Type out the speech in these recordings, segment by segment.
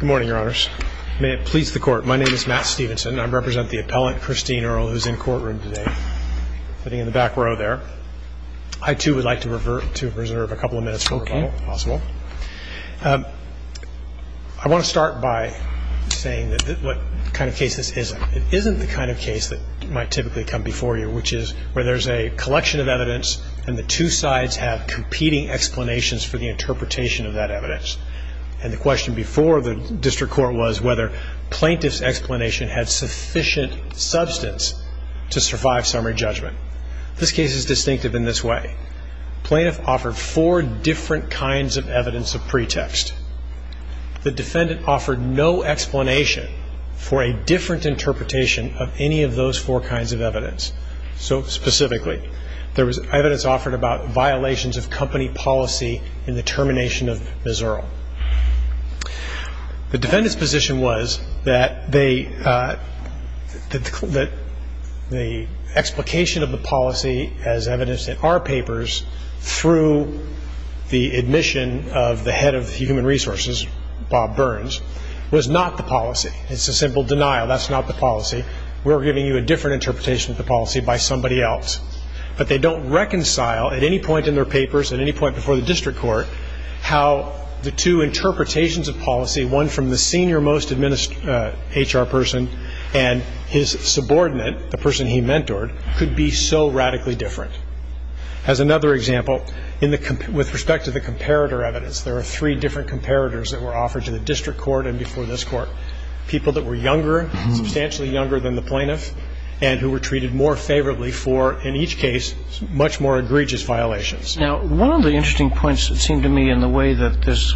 Good morning, Your Honors. May it please the Court, my name is Matt Stevenson. I represent the appellant, Christine Earl, who is in courtroom today, sitting in the back row there. I too would like to reserve a couple of minutes for rebuttal, if possible. I want to start by saying what kind of case this is. It isn't the kind of case that might typically come before you, which is where there is a collection of evidence and the two sides have competing explanations for the interpretation of that evidence. And the question before the District Court was whether plaintiff's explanation had sufficient substance to survive summary judgment. This case is distinctive in this way. Plaintiff offered four different kinds of evidence of pretext. The defendant offered no explanation for a different interpretation of any of those four kinds of evidence. So, specifically, there was evidence offered about violations of company policy in the termination of Ms. Earl. The defendant's position was that the explication of the policy as evidenced in our papers through the admission of the head of human resources, Bob Burns, was not the policy. It's a simple denial. That's not the policy. We're giving you a different interpretation of the policy by somebody else. But they don't reconcile at any point in their papers, at any point before the District Court, how the two interpretations of policy, one from the senior most HR person and his subordinate, the person he mentored, could be so radically different. As another example, with respect to the comparator evidence, there are three different comparators that were offered to the District Court and before this Court. People that were younger, substantially younger than the plaintiff, and who were treated more favorably for, in much more egregious violations. Now, one of the interesting points, it seemed to me, in the way that this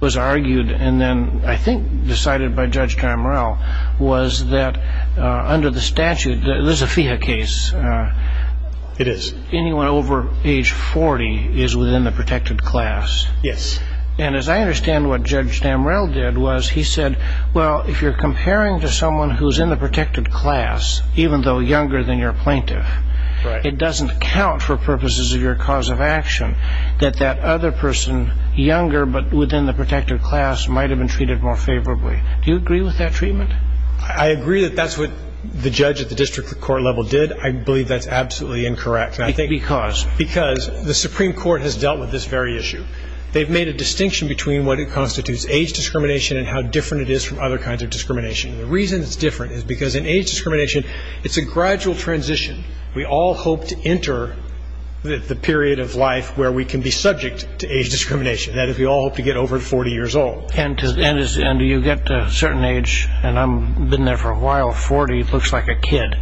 was argued, and then, I think, decided by Judge Damrell, was that under the statute, this is a FIHA case. It is. Anyone over age 40 is within the protected class. Yes. And as I understand what Judge Damrell did was he said, well, if you're comparing to someone who's in the protected class, even though younger than your plaintiff, it doesn't account for purposes of your cause of action, that that other person, younger but within the protected class, might have been treated more favorably. Do you agree with that treatment? I agree that that's what the judge at the District Court level did. I believe that's absolutely incorrect. Because? Because the Supreme Court has dealt with this very issue. They've made a distinction between what constitutes age discrimination and how different it is from other kinds of discrimination. The reason it's different is because in age discrimination, it's a gradual transition. We all hope to enter the period of life where we can be subject to age discrimination. That is, we all hope to get over to 40 years old. And do you get to a certain age, and I've been there for a while, 40 looks like a kid.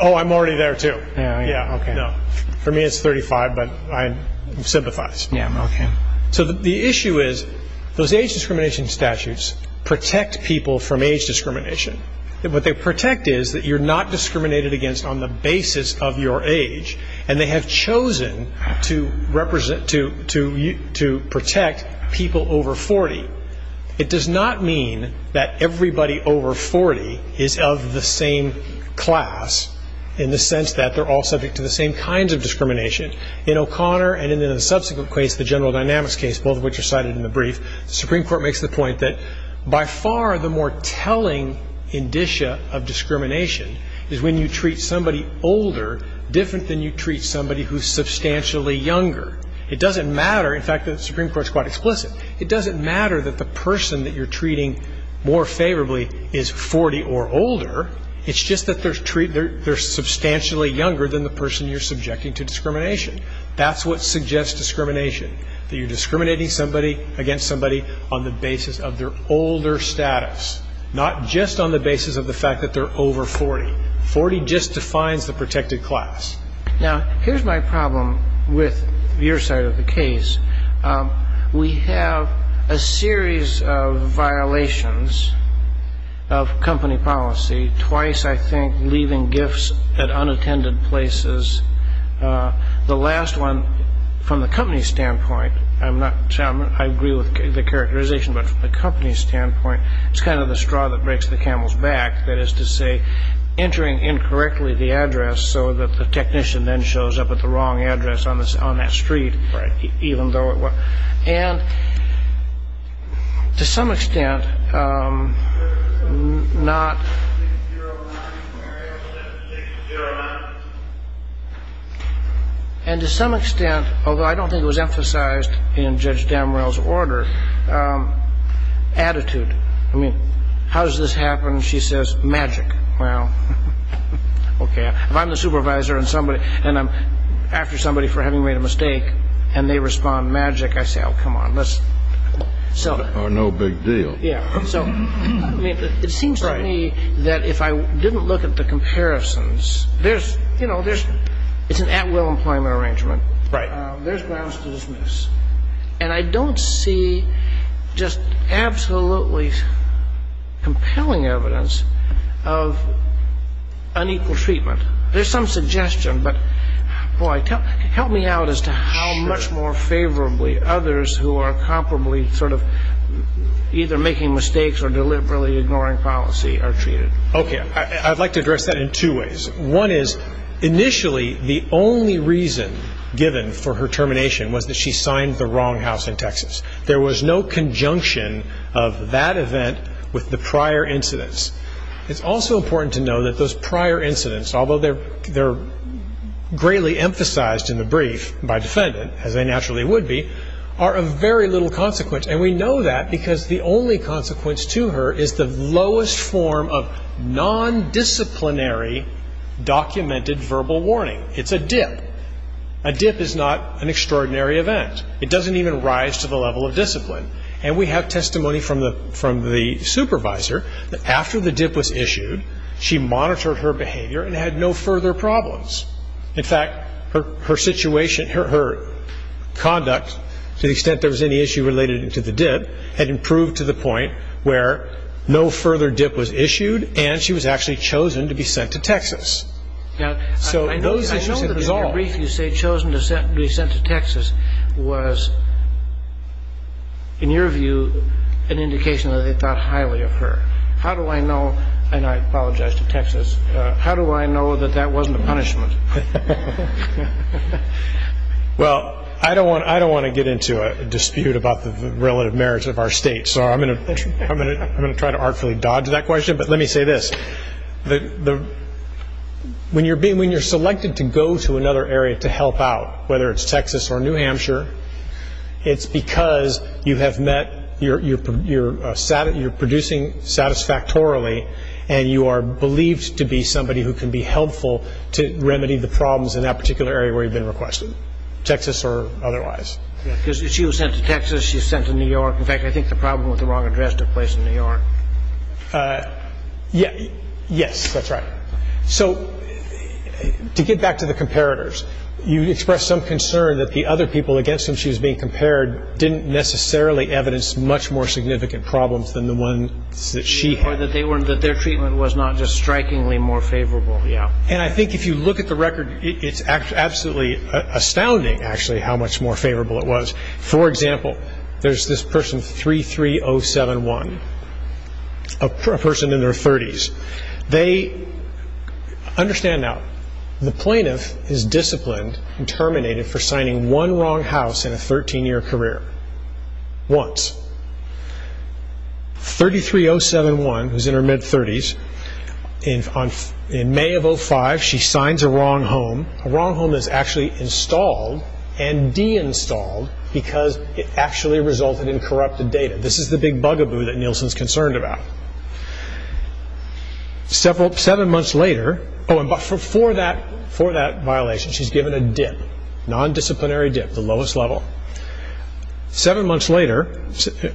Oh, I'm already there, too. Yeah, okay. No. For me, it's 35, but I sympathize. Yeah, okay. So the issue is, those age discrimination statutes protect people from age discrimination. What they protect is that you're not discriminated against on the basis of your age, and they have chosen to represent, to protect people over 40. It does not mean that everybody over 40 is of the same class, in the sense that they're all subject to the same kinds of discrimination. In O'Connor and in the subsequent case, the General Dynamics case, both of which are cited in the brief, the Supreme Court makes the point that by far the more telling indicia of discrimination is when you treat somebody older, different than you treat somebody who's substantially younger. It doesn't matter. In fact, the Supreme Court is quite explicit. It doesn't matter that the person that you're treating more favorably is 40 or older. It's just that they're substantially younger than the person you're subjecting to discrimination. That's what suggests discrimination, that you're discriminating somebody against somebody on the basis of their older status, not just on the basis of the fact that they're over 40. 40 just defines the protected class. Now, here's my problem with your side of the case. We have a series of violations of company policy, twice, I think, leaving gifts at unattended places. The last one, from the company's standpoint, I agree with the characterization, but from the company's standpoint, it's kind of the straw that breaks the camel's back, that is to say, entering incorrectly the address so that the technician then shows up at the wrong address on that street, even though And to some extent, although I don't think it was emphasized in Judge Damrell's order, attitude. I mean, how does this happen? She says, magic. Well, okay. If I'm the supervisor and somebody, and I'm after somebody for having made a mistake, and they respond, magic, I say, oh, come on, let's solve it. Or no big deal. Yeah. So it seems to me that if I didn't look at the comparisons, there's, you know, there's it's an at-will employment arrangement. Right. There's grounds to dismiss. And I don't see just absolutely compelling evidence of unequal treatment. There's some suggestion, but, boy, help me out as to how much more favorably others who are comparably sort of either making mistakes or deliberately ignoring policy are treated. Okay. I'd like to address that in two ways. One is, initially, the only reason given for her termination was that she signed the wrong house in Texas. There was no conjunction of that event with the prior incidents. It's also important to know that those prior incidents, although they're greatly emphasized in the brief by defendant, as they naturally would be, are of very little consequence. And we know that because the only consequence to her is the lowest form of non-disciplinary documented verbal warning. It's a dip. A dip is not an extraordinary event. It doesn't even rise to the level of discipline. And we have testimony from the supervisor that after the dip was issued, she monitored her behavior and had no further problems. In fact, her situation, her conduct, to the extent there was any issue related to the dip, had improved to the point where no further dip was issued and she was actually chosen to be sent to Texas. I know that the brief you say, chosen to be sent to Texas, was, in your view, an indication that they thought highly of her. How do I know, and I apologize to Texas, how do I know that that wasn't a punishment? Well, I don't want to get into a dispute about the relative merits of our state, so I'm going to try to artfully dodge that question, but let me say this. When you're selected to go to another area to help out, whether it's Texas or New Hampshire, it's because you have met, you're producing satisfactorily and you are believed to be somebody who can be helpful to remedy the problems in that particular area where you've been requested, Texas or otherwise. Because she was sent to Texas, she was sent to New York. In fact, I think the problem with the wrong address took place in New York. Yes, that's right. So, to get back to the comparators, you expressed some concern that the other people against whom she was being compared didn't necessarily evidence much more significant problems than the ones that she had. Or that their treatment was not just strikingly more favorable, yeah. And I think if you look at the record, it's absolutely astounding, actually, how much more favorable it was. For example, there's this person 33071, a person in their 30s. They understand now, the plaintiff is disciplined and terminated for signing one wrong house in a 13-year career, once. 33071, who's in her mid-30s, in May of 2005, she signs a wrong home. A wrong home is actually installed and de-installed because it actually resulted in corrupted data. This is the big bugaboo that Nielsen's concerned about. Seven months later, oh, and for that violation, she's given a dip, a non-disciplinary dip, the lowest level. Seven months later,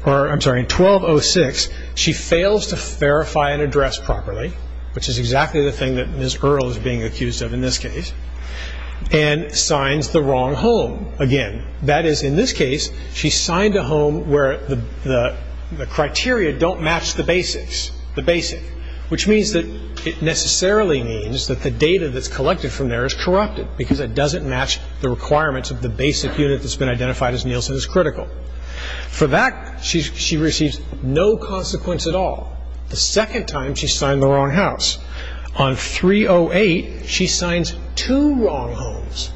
or I'm sorry, in 1206, she fails to verify an address properly, which is exactly the thing that Ms. Earle is being accused of in this case, and signs the wrong home again. That is, in this case, she signed a home where the criteria don't match the basics, the basic, which means that it necessarily means that the data that's collected from there is corrupted because it doesn't match the requirements of the basic unit that's been identified as Nielsen's critical. For that, she receives no consequence at all. The second time, she's signed the wrong house. On 308, she signs two wrong homes,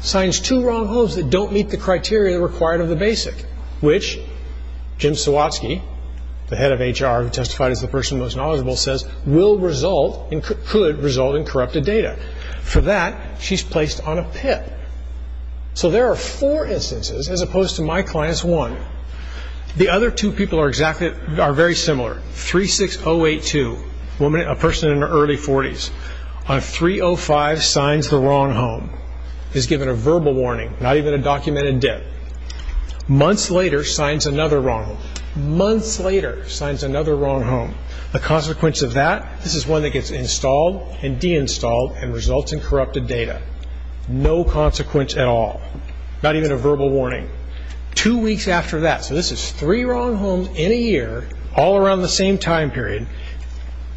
signs two wrong homes that don't meet the criteria required of the basic, which Jim Sawatzky, the head of HR who testified as the person most knowledgeable, says will result, could result in corrupted data. For that, she's placed on a pip. So there are four instances, as opposed to my client's one. The other two people are very similar. 36082, a person in her early 40s, on 305, signs the wrong home, is given a verbal warning, not even a documented dip. Months later, signs another wrong home. Months later, signs another wrong home. The consequence of that, this is one that gets installed and results in corrupted data. No consequence at all. Not even a verbal warning. Two weeks after that, so this is three wrong homes in a year, all around the same time period,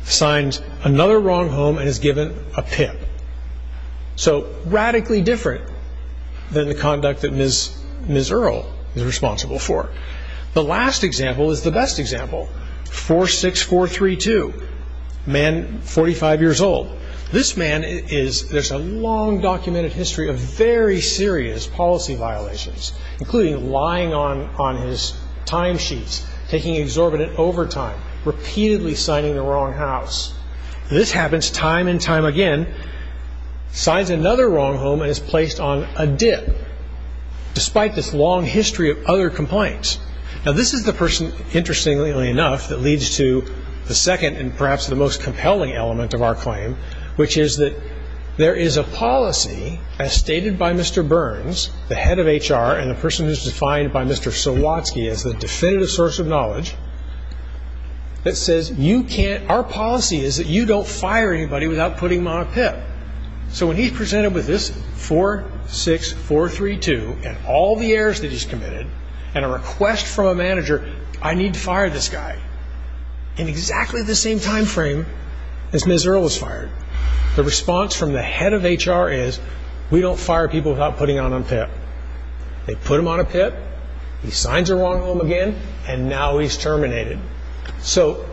signs another wrong home and is given a pip. So radically different than the conduct that Ms. Earle is responsible for. The last example is the best example. 46432, a man 45 years old. This man is, there's a long documented history of very serious policy violations, including lying on his timesheets, taking exorbitant overtime, repeatedly signing the wrong house. This happens time and time again. Signs another wrong home and is placed on a dip, despite this long history of other complaints. Now this is the person, interestingly enough, that leads to the second and perhaps the most compelling element of our claim, which is that there is a policy, as stated by Mr. Burns, the head of HR and the person who is defined by Mr. Sawatsky as the definitive source of knowledge, that says you can't, our policy is that you don't fire anybody without putting them on a pip. So when he's presented with this 46432 and all the errors that he's committed and a request from a manager, I need to fire this guy, in exactly the same time frame as Ms. Earle was fired. The response from the head of HR is, we don't fire people without putting them on a pip. They put him on a pip, he signs a wrong home again, and now he's terminated. So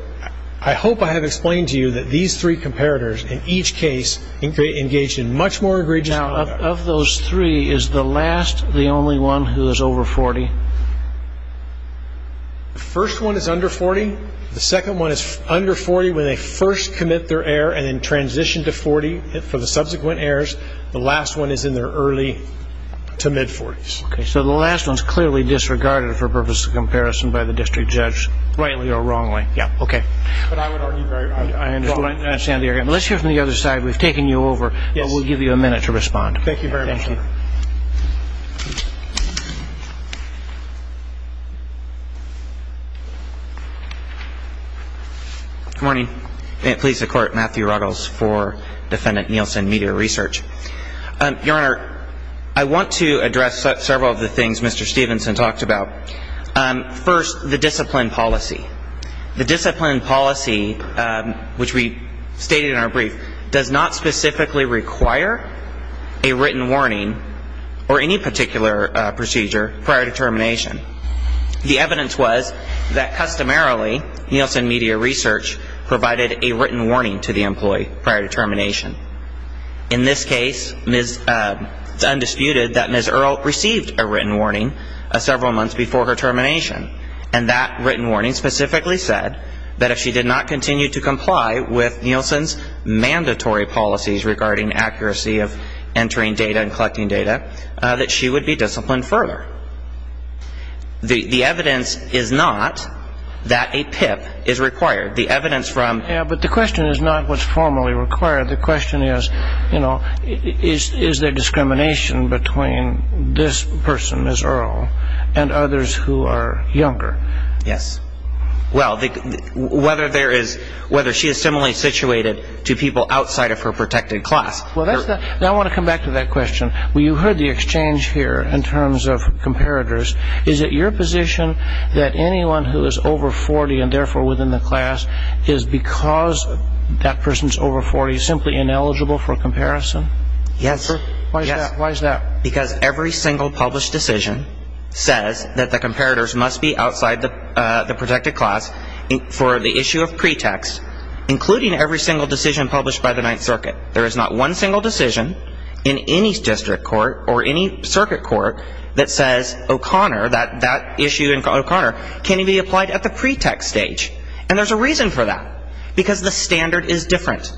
I hope I have explained to you that these three comparators in each case engage in much more egregious conduct. Now of those three, is the last the only one who is over 40? The first one is under 40. The second one is under 40 when they first commit their error and then transition to 40 for the subsequent errors. The last one is in their early to mid 40s. Okay, so the last one is clearly disregarded for purposes of comparison by the district judge, rightly or wrongly. Rightly. Yeah, okay. But I would argue, I understand the argument. Let's hear from the other side. We've taken you over, but we'll give you a minute to respond. Thank you very much. Thank you. Good morning. Pleased to court, Matthew Ruggles for Defendant Nielsen, Media Research. Your Honor, I want to address several of the things Mr. Stevenson talked about. First, the discipline policy. The discipline policy, which we stated in our brief, does not specifically require a written warning or any particular procedure prior to termination. The evidence was that customarily Nielsen Media Research provided a written warning to the employee prior to termination. In this case, it's undisputed that Ms. Earl received a written warning several said that if she did not continue to comply with Nielsen's mandatory policies regarding accuracy of entering data and collecting data, that she would be disciplined further. The evidence is not that a PIP is required. The evidence from Yeah, but the question is not what's formally required. The question is, you know, is there discrimination between this person, Ms. Earl, and others who are younger? Yes. Well, whether there is, whether she is similarly situated to people outside of her protected class. Well, that's the, now I want to come back to that question. Well, you heard the exchange here in terms of comparators. Is it your position that anyone who is over 40 and therefore within the class is because that person's over 40 simply ineligible for comparison? Yes. Why is that? Because every single published decision says that the comparators must be outside the protected class for the issue of pretext, including every single decision published by the Ninth Circuit. There is not one single decision in any district court or any circuit court that says O'Connor, that issue in O'Connor, can be applied at the pretext stage. And there's a reason for that. Because the standard is different.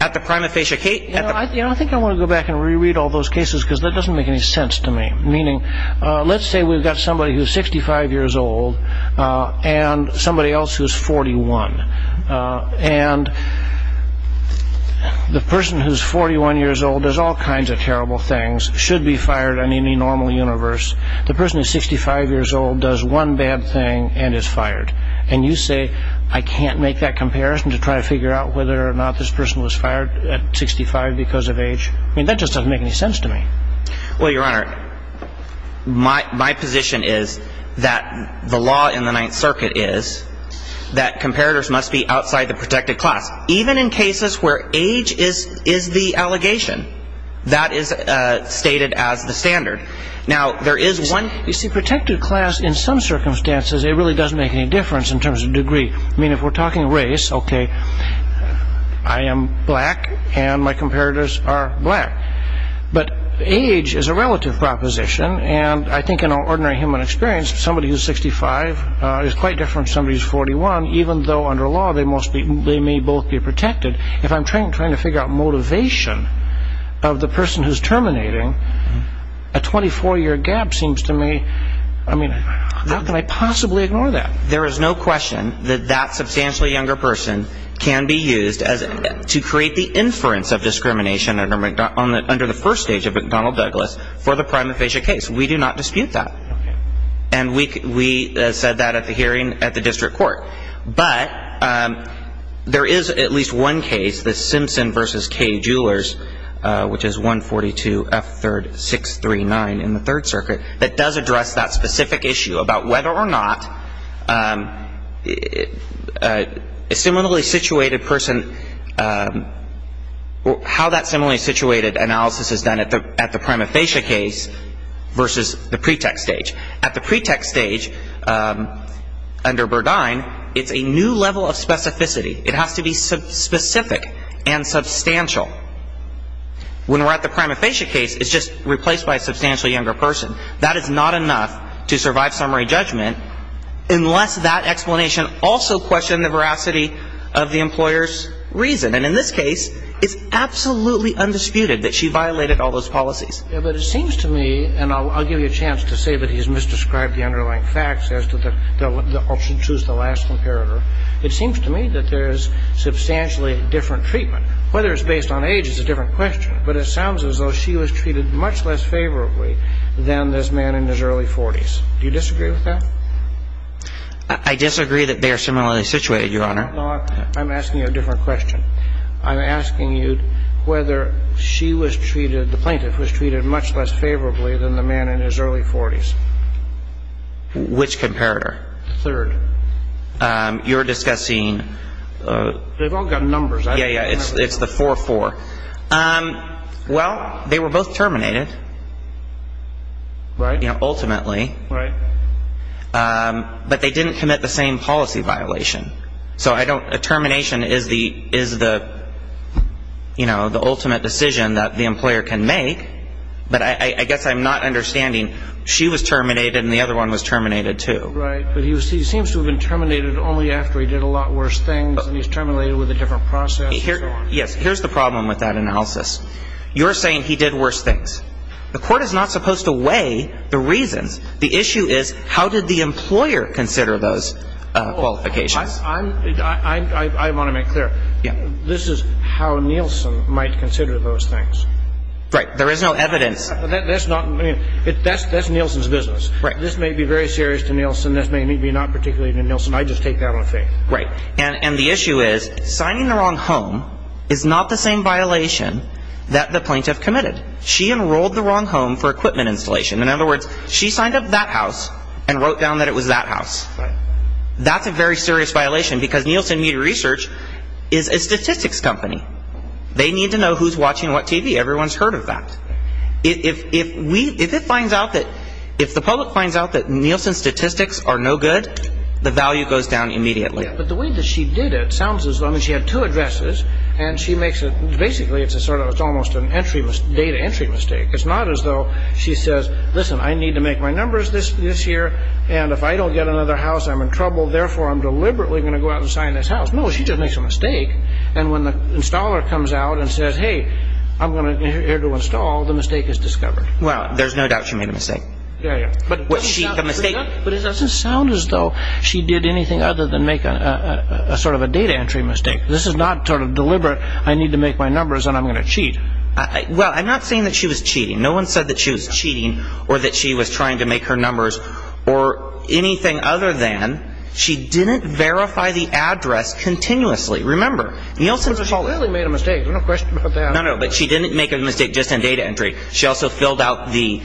At the prima facie case I think I want to go back and reread all those cases because that doesn't make any sense to me. Meaning, let's say we've got somebody who's 65 years old and somebody else who's 41. And the person who's 41 years old does all kinds of terrible things, should be fired on any normal universe. The person who's 65 years old does one bad thing and is fired. And you say, I can't make that comparison to try to figure out whether or not this person was fired at 65 because of age. I mean, that just doesn't make any sense to me. Well, Your Honor, my position is that the law in the Ninth Circuit is that comparators must be outside the protected class. Even in cases where age is the allegation, that is stated as the standard. Now, there is one... You see, protected class in some circumstances, it really doesn't make any difference in terms of degree. I mean, if we're talking race, okay, I am black and my comparators are black. But age is a relative proposition. And I think in our ordinary human experience, somebody who's 65 is quite different from somebody who's 41, even though under law, they may both be protected. If I'm trying to figure out motivation of the person who's terminating, a 24-year gap seems to me... I mean, how can I possibly ignore that? There is no question that that substantially younger person can be used to create the inference of discrimination under the first stage of McDonnell-Douglas for the prima facie case. We do not dispute that. And we said that at the hearing at the District Court. But there is at least one case, the Simpson v. K. Jewelers, which is 142 F. 639 in the Third Circuit. A similarly situated person... How that similarly situated analysis is done at the prima facie case versus the pretext stage. At the pretext stage, under Burdine, it's a new level of specificity. It has to be specific and substantial. When we're at the prima facie case, it's just replaced by a substantially younger person. That is not enough to survive summary judgment unless that explanation also questioned the veracity of the employer's reason. And in this case, it's absolutely undisputed that she violated all those policies. Yeah, but it seems to me, and I'll give you a chance to say that he's misdescribed the underlying facts as to the... I'll choose the last comparator. It seems to me that there's substantially different treatment. Whether it's based on age is a different question, but it sounds as though she was treated much less favorably than this man in his early 40s. Do you disagree with that? I disagree that they are similarly situated, Your Honor. No, I'm asking you a different question. I'm asking you whether she was treated, the plaintiff was treated much less favorably than the man in his early 40s. Which comparator? Third. You're discussing... They've all got numbers. Yeah, yeah. It's the 4-4. Well, they were both terminated. Right. Ultimately. Right. But they didn't commit the same policy violation. So I don't... A termination is the ultimate decision that the employer can make, but I guess I'm not understanding... She was terminated, and the other one was terminated, too. Right. But he seems to have been terminated only after he did a lot worse things, and he's terminated with a different process, and so on. Yes. Here's the problem with that analysis. You're saying he did worse things. The court is not supposed to weigh the reasons. The issue is, how did the employer consider those qualifications? I'm... I want to make clear. This is how Nielsen might consider those things. Right. There is no evidence. That's not... That's Nielsen's business. Right. This may be very serious to Nielsen. This may be not particularly to Nielsen. I just take that on faith. Right. And the issue is, signing the wrong home is not the same violation that the plaintiff committed. She enrolled the wrong home for equipment installation. In other words, she signed up that house and wrote down that it was that house. Right. That's a very serious violation, because Nielsen Media Research is a statistics company. They need to know who's watching what TV. Everyone's heard of that. If we... If it finds out that... If the public finds out that Nielsen's statistics are no good, the value goes down immediately. But the way that she did it sounds as though... I mean, she had two addresses, and she makes a... Basically, it's a sort of... It's almost an entry... Data entry mistake. It's not as though she says, listen, I need to make my numbers this year, and if I don't get another house, I'm in trouble. Therefore, I'm deliberately going to go out and sign this house. No, she just makes a mistake. And when the installer comes out and says, hey, I'm going to... Here to install, the mistake is discovered. Well, there's no doubt she made a mistake. Yeah, yeah. But was she the mistake? But it doesn't sound as though she did anything other than make a sort of a data entry mistake. This is not sort of deliberate. I need to make my numbers, and I'm going to cheat. Well, I'm not saying that she was cheating. No one said that she was cheating, or that she was trying to make her numbers, or anything other than... She didn't verify the address continuously. Remember, Nielsen's... But she really made a mistake. There's no question about that. No, no, but she didn't make a mistake just in data entry. She also filled out the...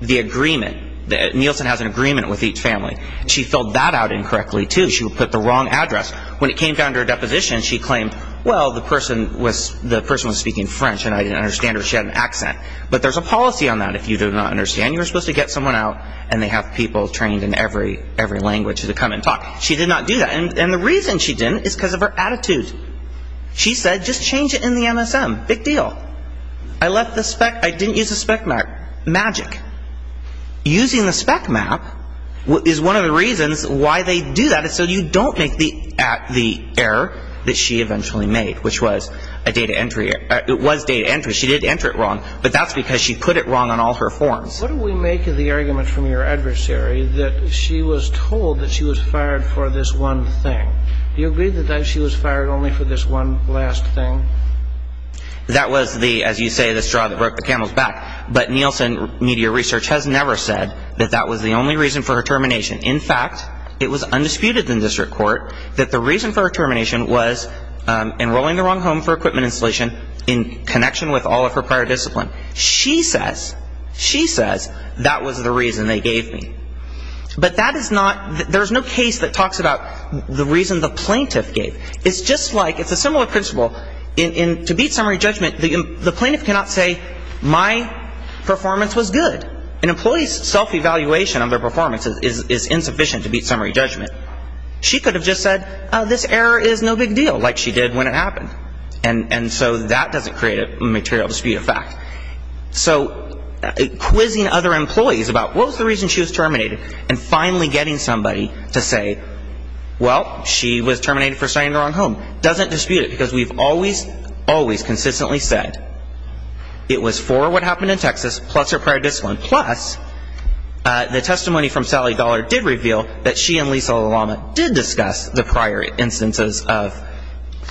The agreement. Nielsen has an agreement with each family. She filled that out incorrectly, too. She would put the wrong address. When it came down to her deposition, she claimed, well, the person was speaking French, and I didn't understand her. She had an accent. But there's a policy on that if you do not understand. You're supposed to get someone out, and they have people trained in every language to come and talk. She did not do that. And the reason she didn't is because of her attitude. She said, just change it in the MSM. Big deal. I left the spec... I didn't use the spec map. Magic. Using the spec map is one of the reasons why they do that. So you don't make the error that she eventually made, which was a data entry. It was data entry. She did enter it wrong. But that's because she put it wrong on all her forms. What do we make of the argument from your adversary that she was told that she was fired for this one thing? Do you agree that she was fired only for this one last thing? That was the, as you say, the straw that broke the camel's back. But Nielsen Media Research has never said that that was the only reason for her termination. In fact, it was undisputed in district court that the reason for her termination was enrolling the wrong home for equipment installation in connection with all of her prior discipline. She says, she says, that was the reason they gave me. But that is not, there is no case that talks about the reason the plaintiff gave. It's just like, it's a similar principle. To beat summary judgment, the plaintiff cannot say, my performance was good. An employee's self-evaluation of their performance is insufficient to beat summary judgment. She could have just said, this error is no big deal, like she did when it happened. And so that doesn't create a material dispute of fact. So quizzing other employees about what was the reason she was terminated and finally getting somebody to say, well, she was terminated for starting the wrong home, doesn't dispute it because we've always, always consistently said, it was for what happened in Texas, plus her prior discipline, plus the testimony from Sally Dollar did reveal that she and Lisa LaLama did discuss the prior instances of,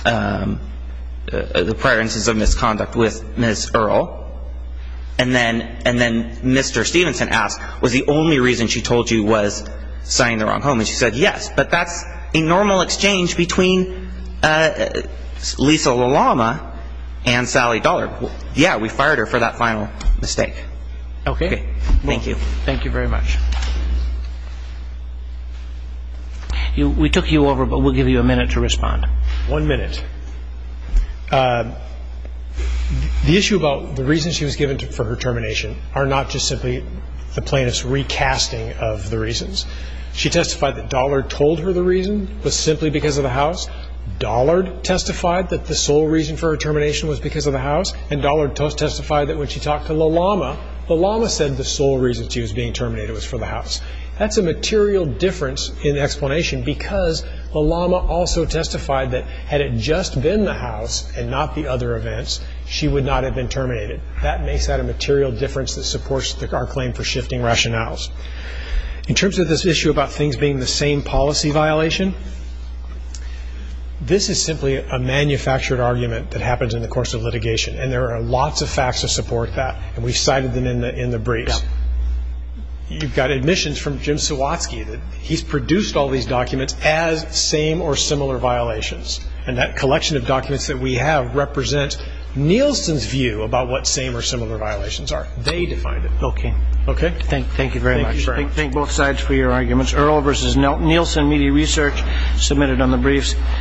the prior instances of misconduct with Ms. Earl. And then, and then Mr. Stevenson asked, was the only reason she told you was starting the wrong home? And she said, yes, but that's a normal exchange between Lisa LaLama and Sally Dollar. Yeah, we fired her for that final mistake. Okay. Thank you. Thank you very much. We took you over, but we'll give you a minute to respond. One minute. The issue about the reason she was given for her termination are not just simply the plaintiff's recasting of the reasons. She testified that Dollar told her the reason was simply because of the house. Dollard testified that the sole reason for her termination was because of the house. And Dollar testified that when she talked to LaLama, LaLama said the sole reason she was being terminated was for the house. That's a material difference in the explanation because LaLama also testified that had it just been the house and not the other events, she would not have been terminated. That makes that a material difference that supports our claim for shifting rationales. In terms of this issue about things being the same policy violation, this is simply a manufactured argument that happens in the course of litigation. And there are lots of facts to support that. And we've cited them in the briefs. You've got admissions from Jim Suwatsky. He's produced all these documents as same or similar violations. And that collection of documents that we have represent Nielsen's view about what same or similar violations are. They defined it. Okay. Okay. Thank you very much. Thank both sides for your arguments. Earl versus Nelson. Nielsen Media Research, submitted on the briefs.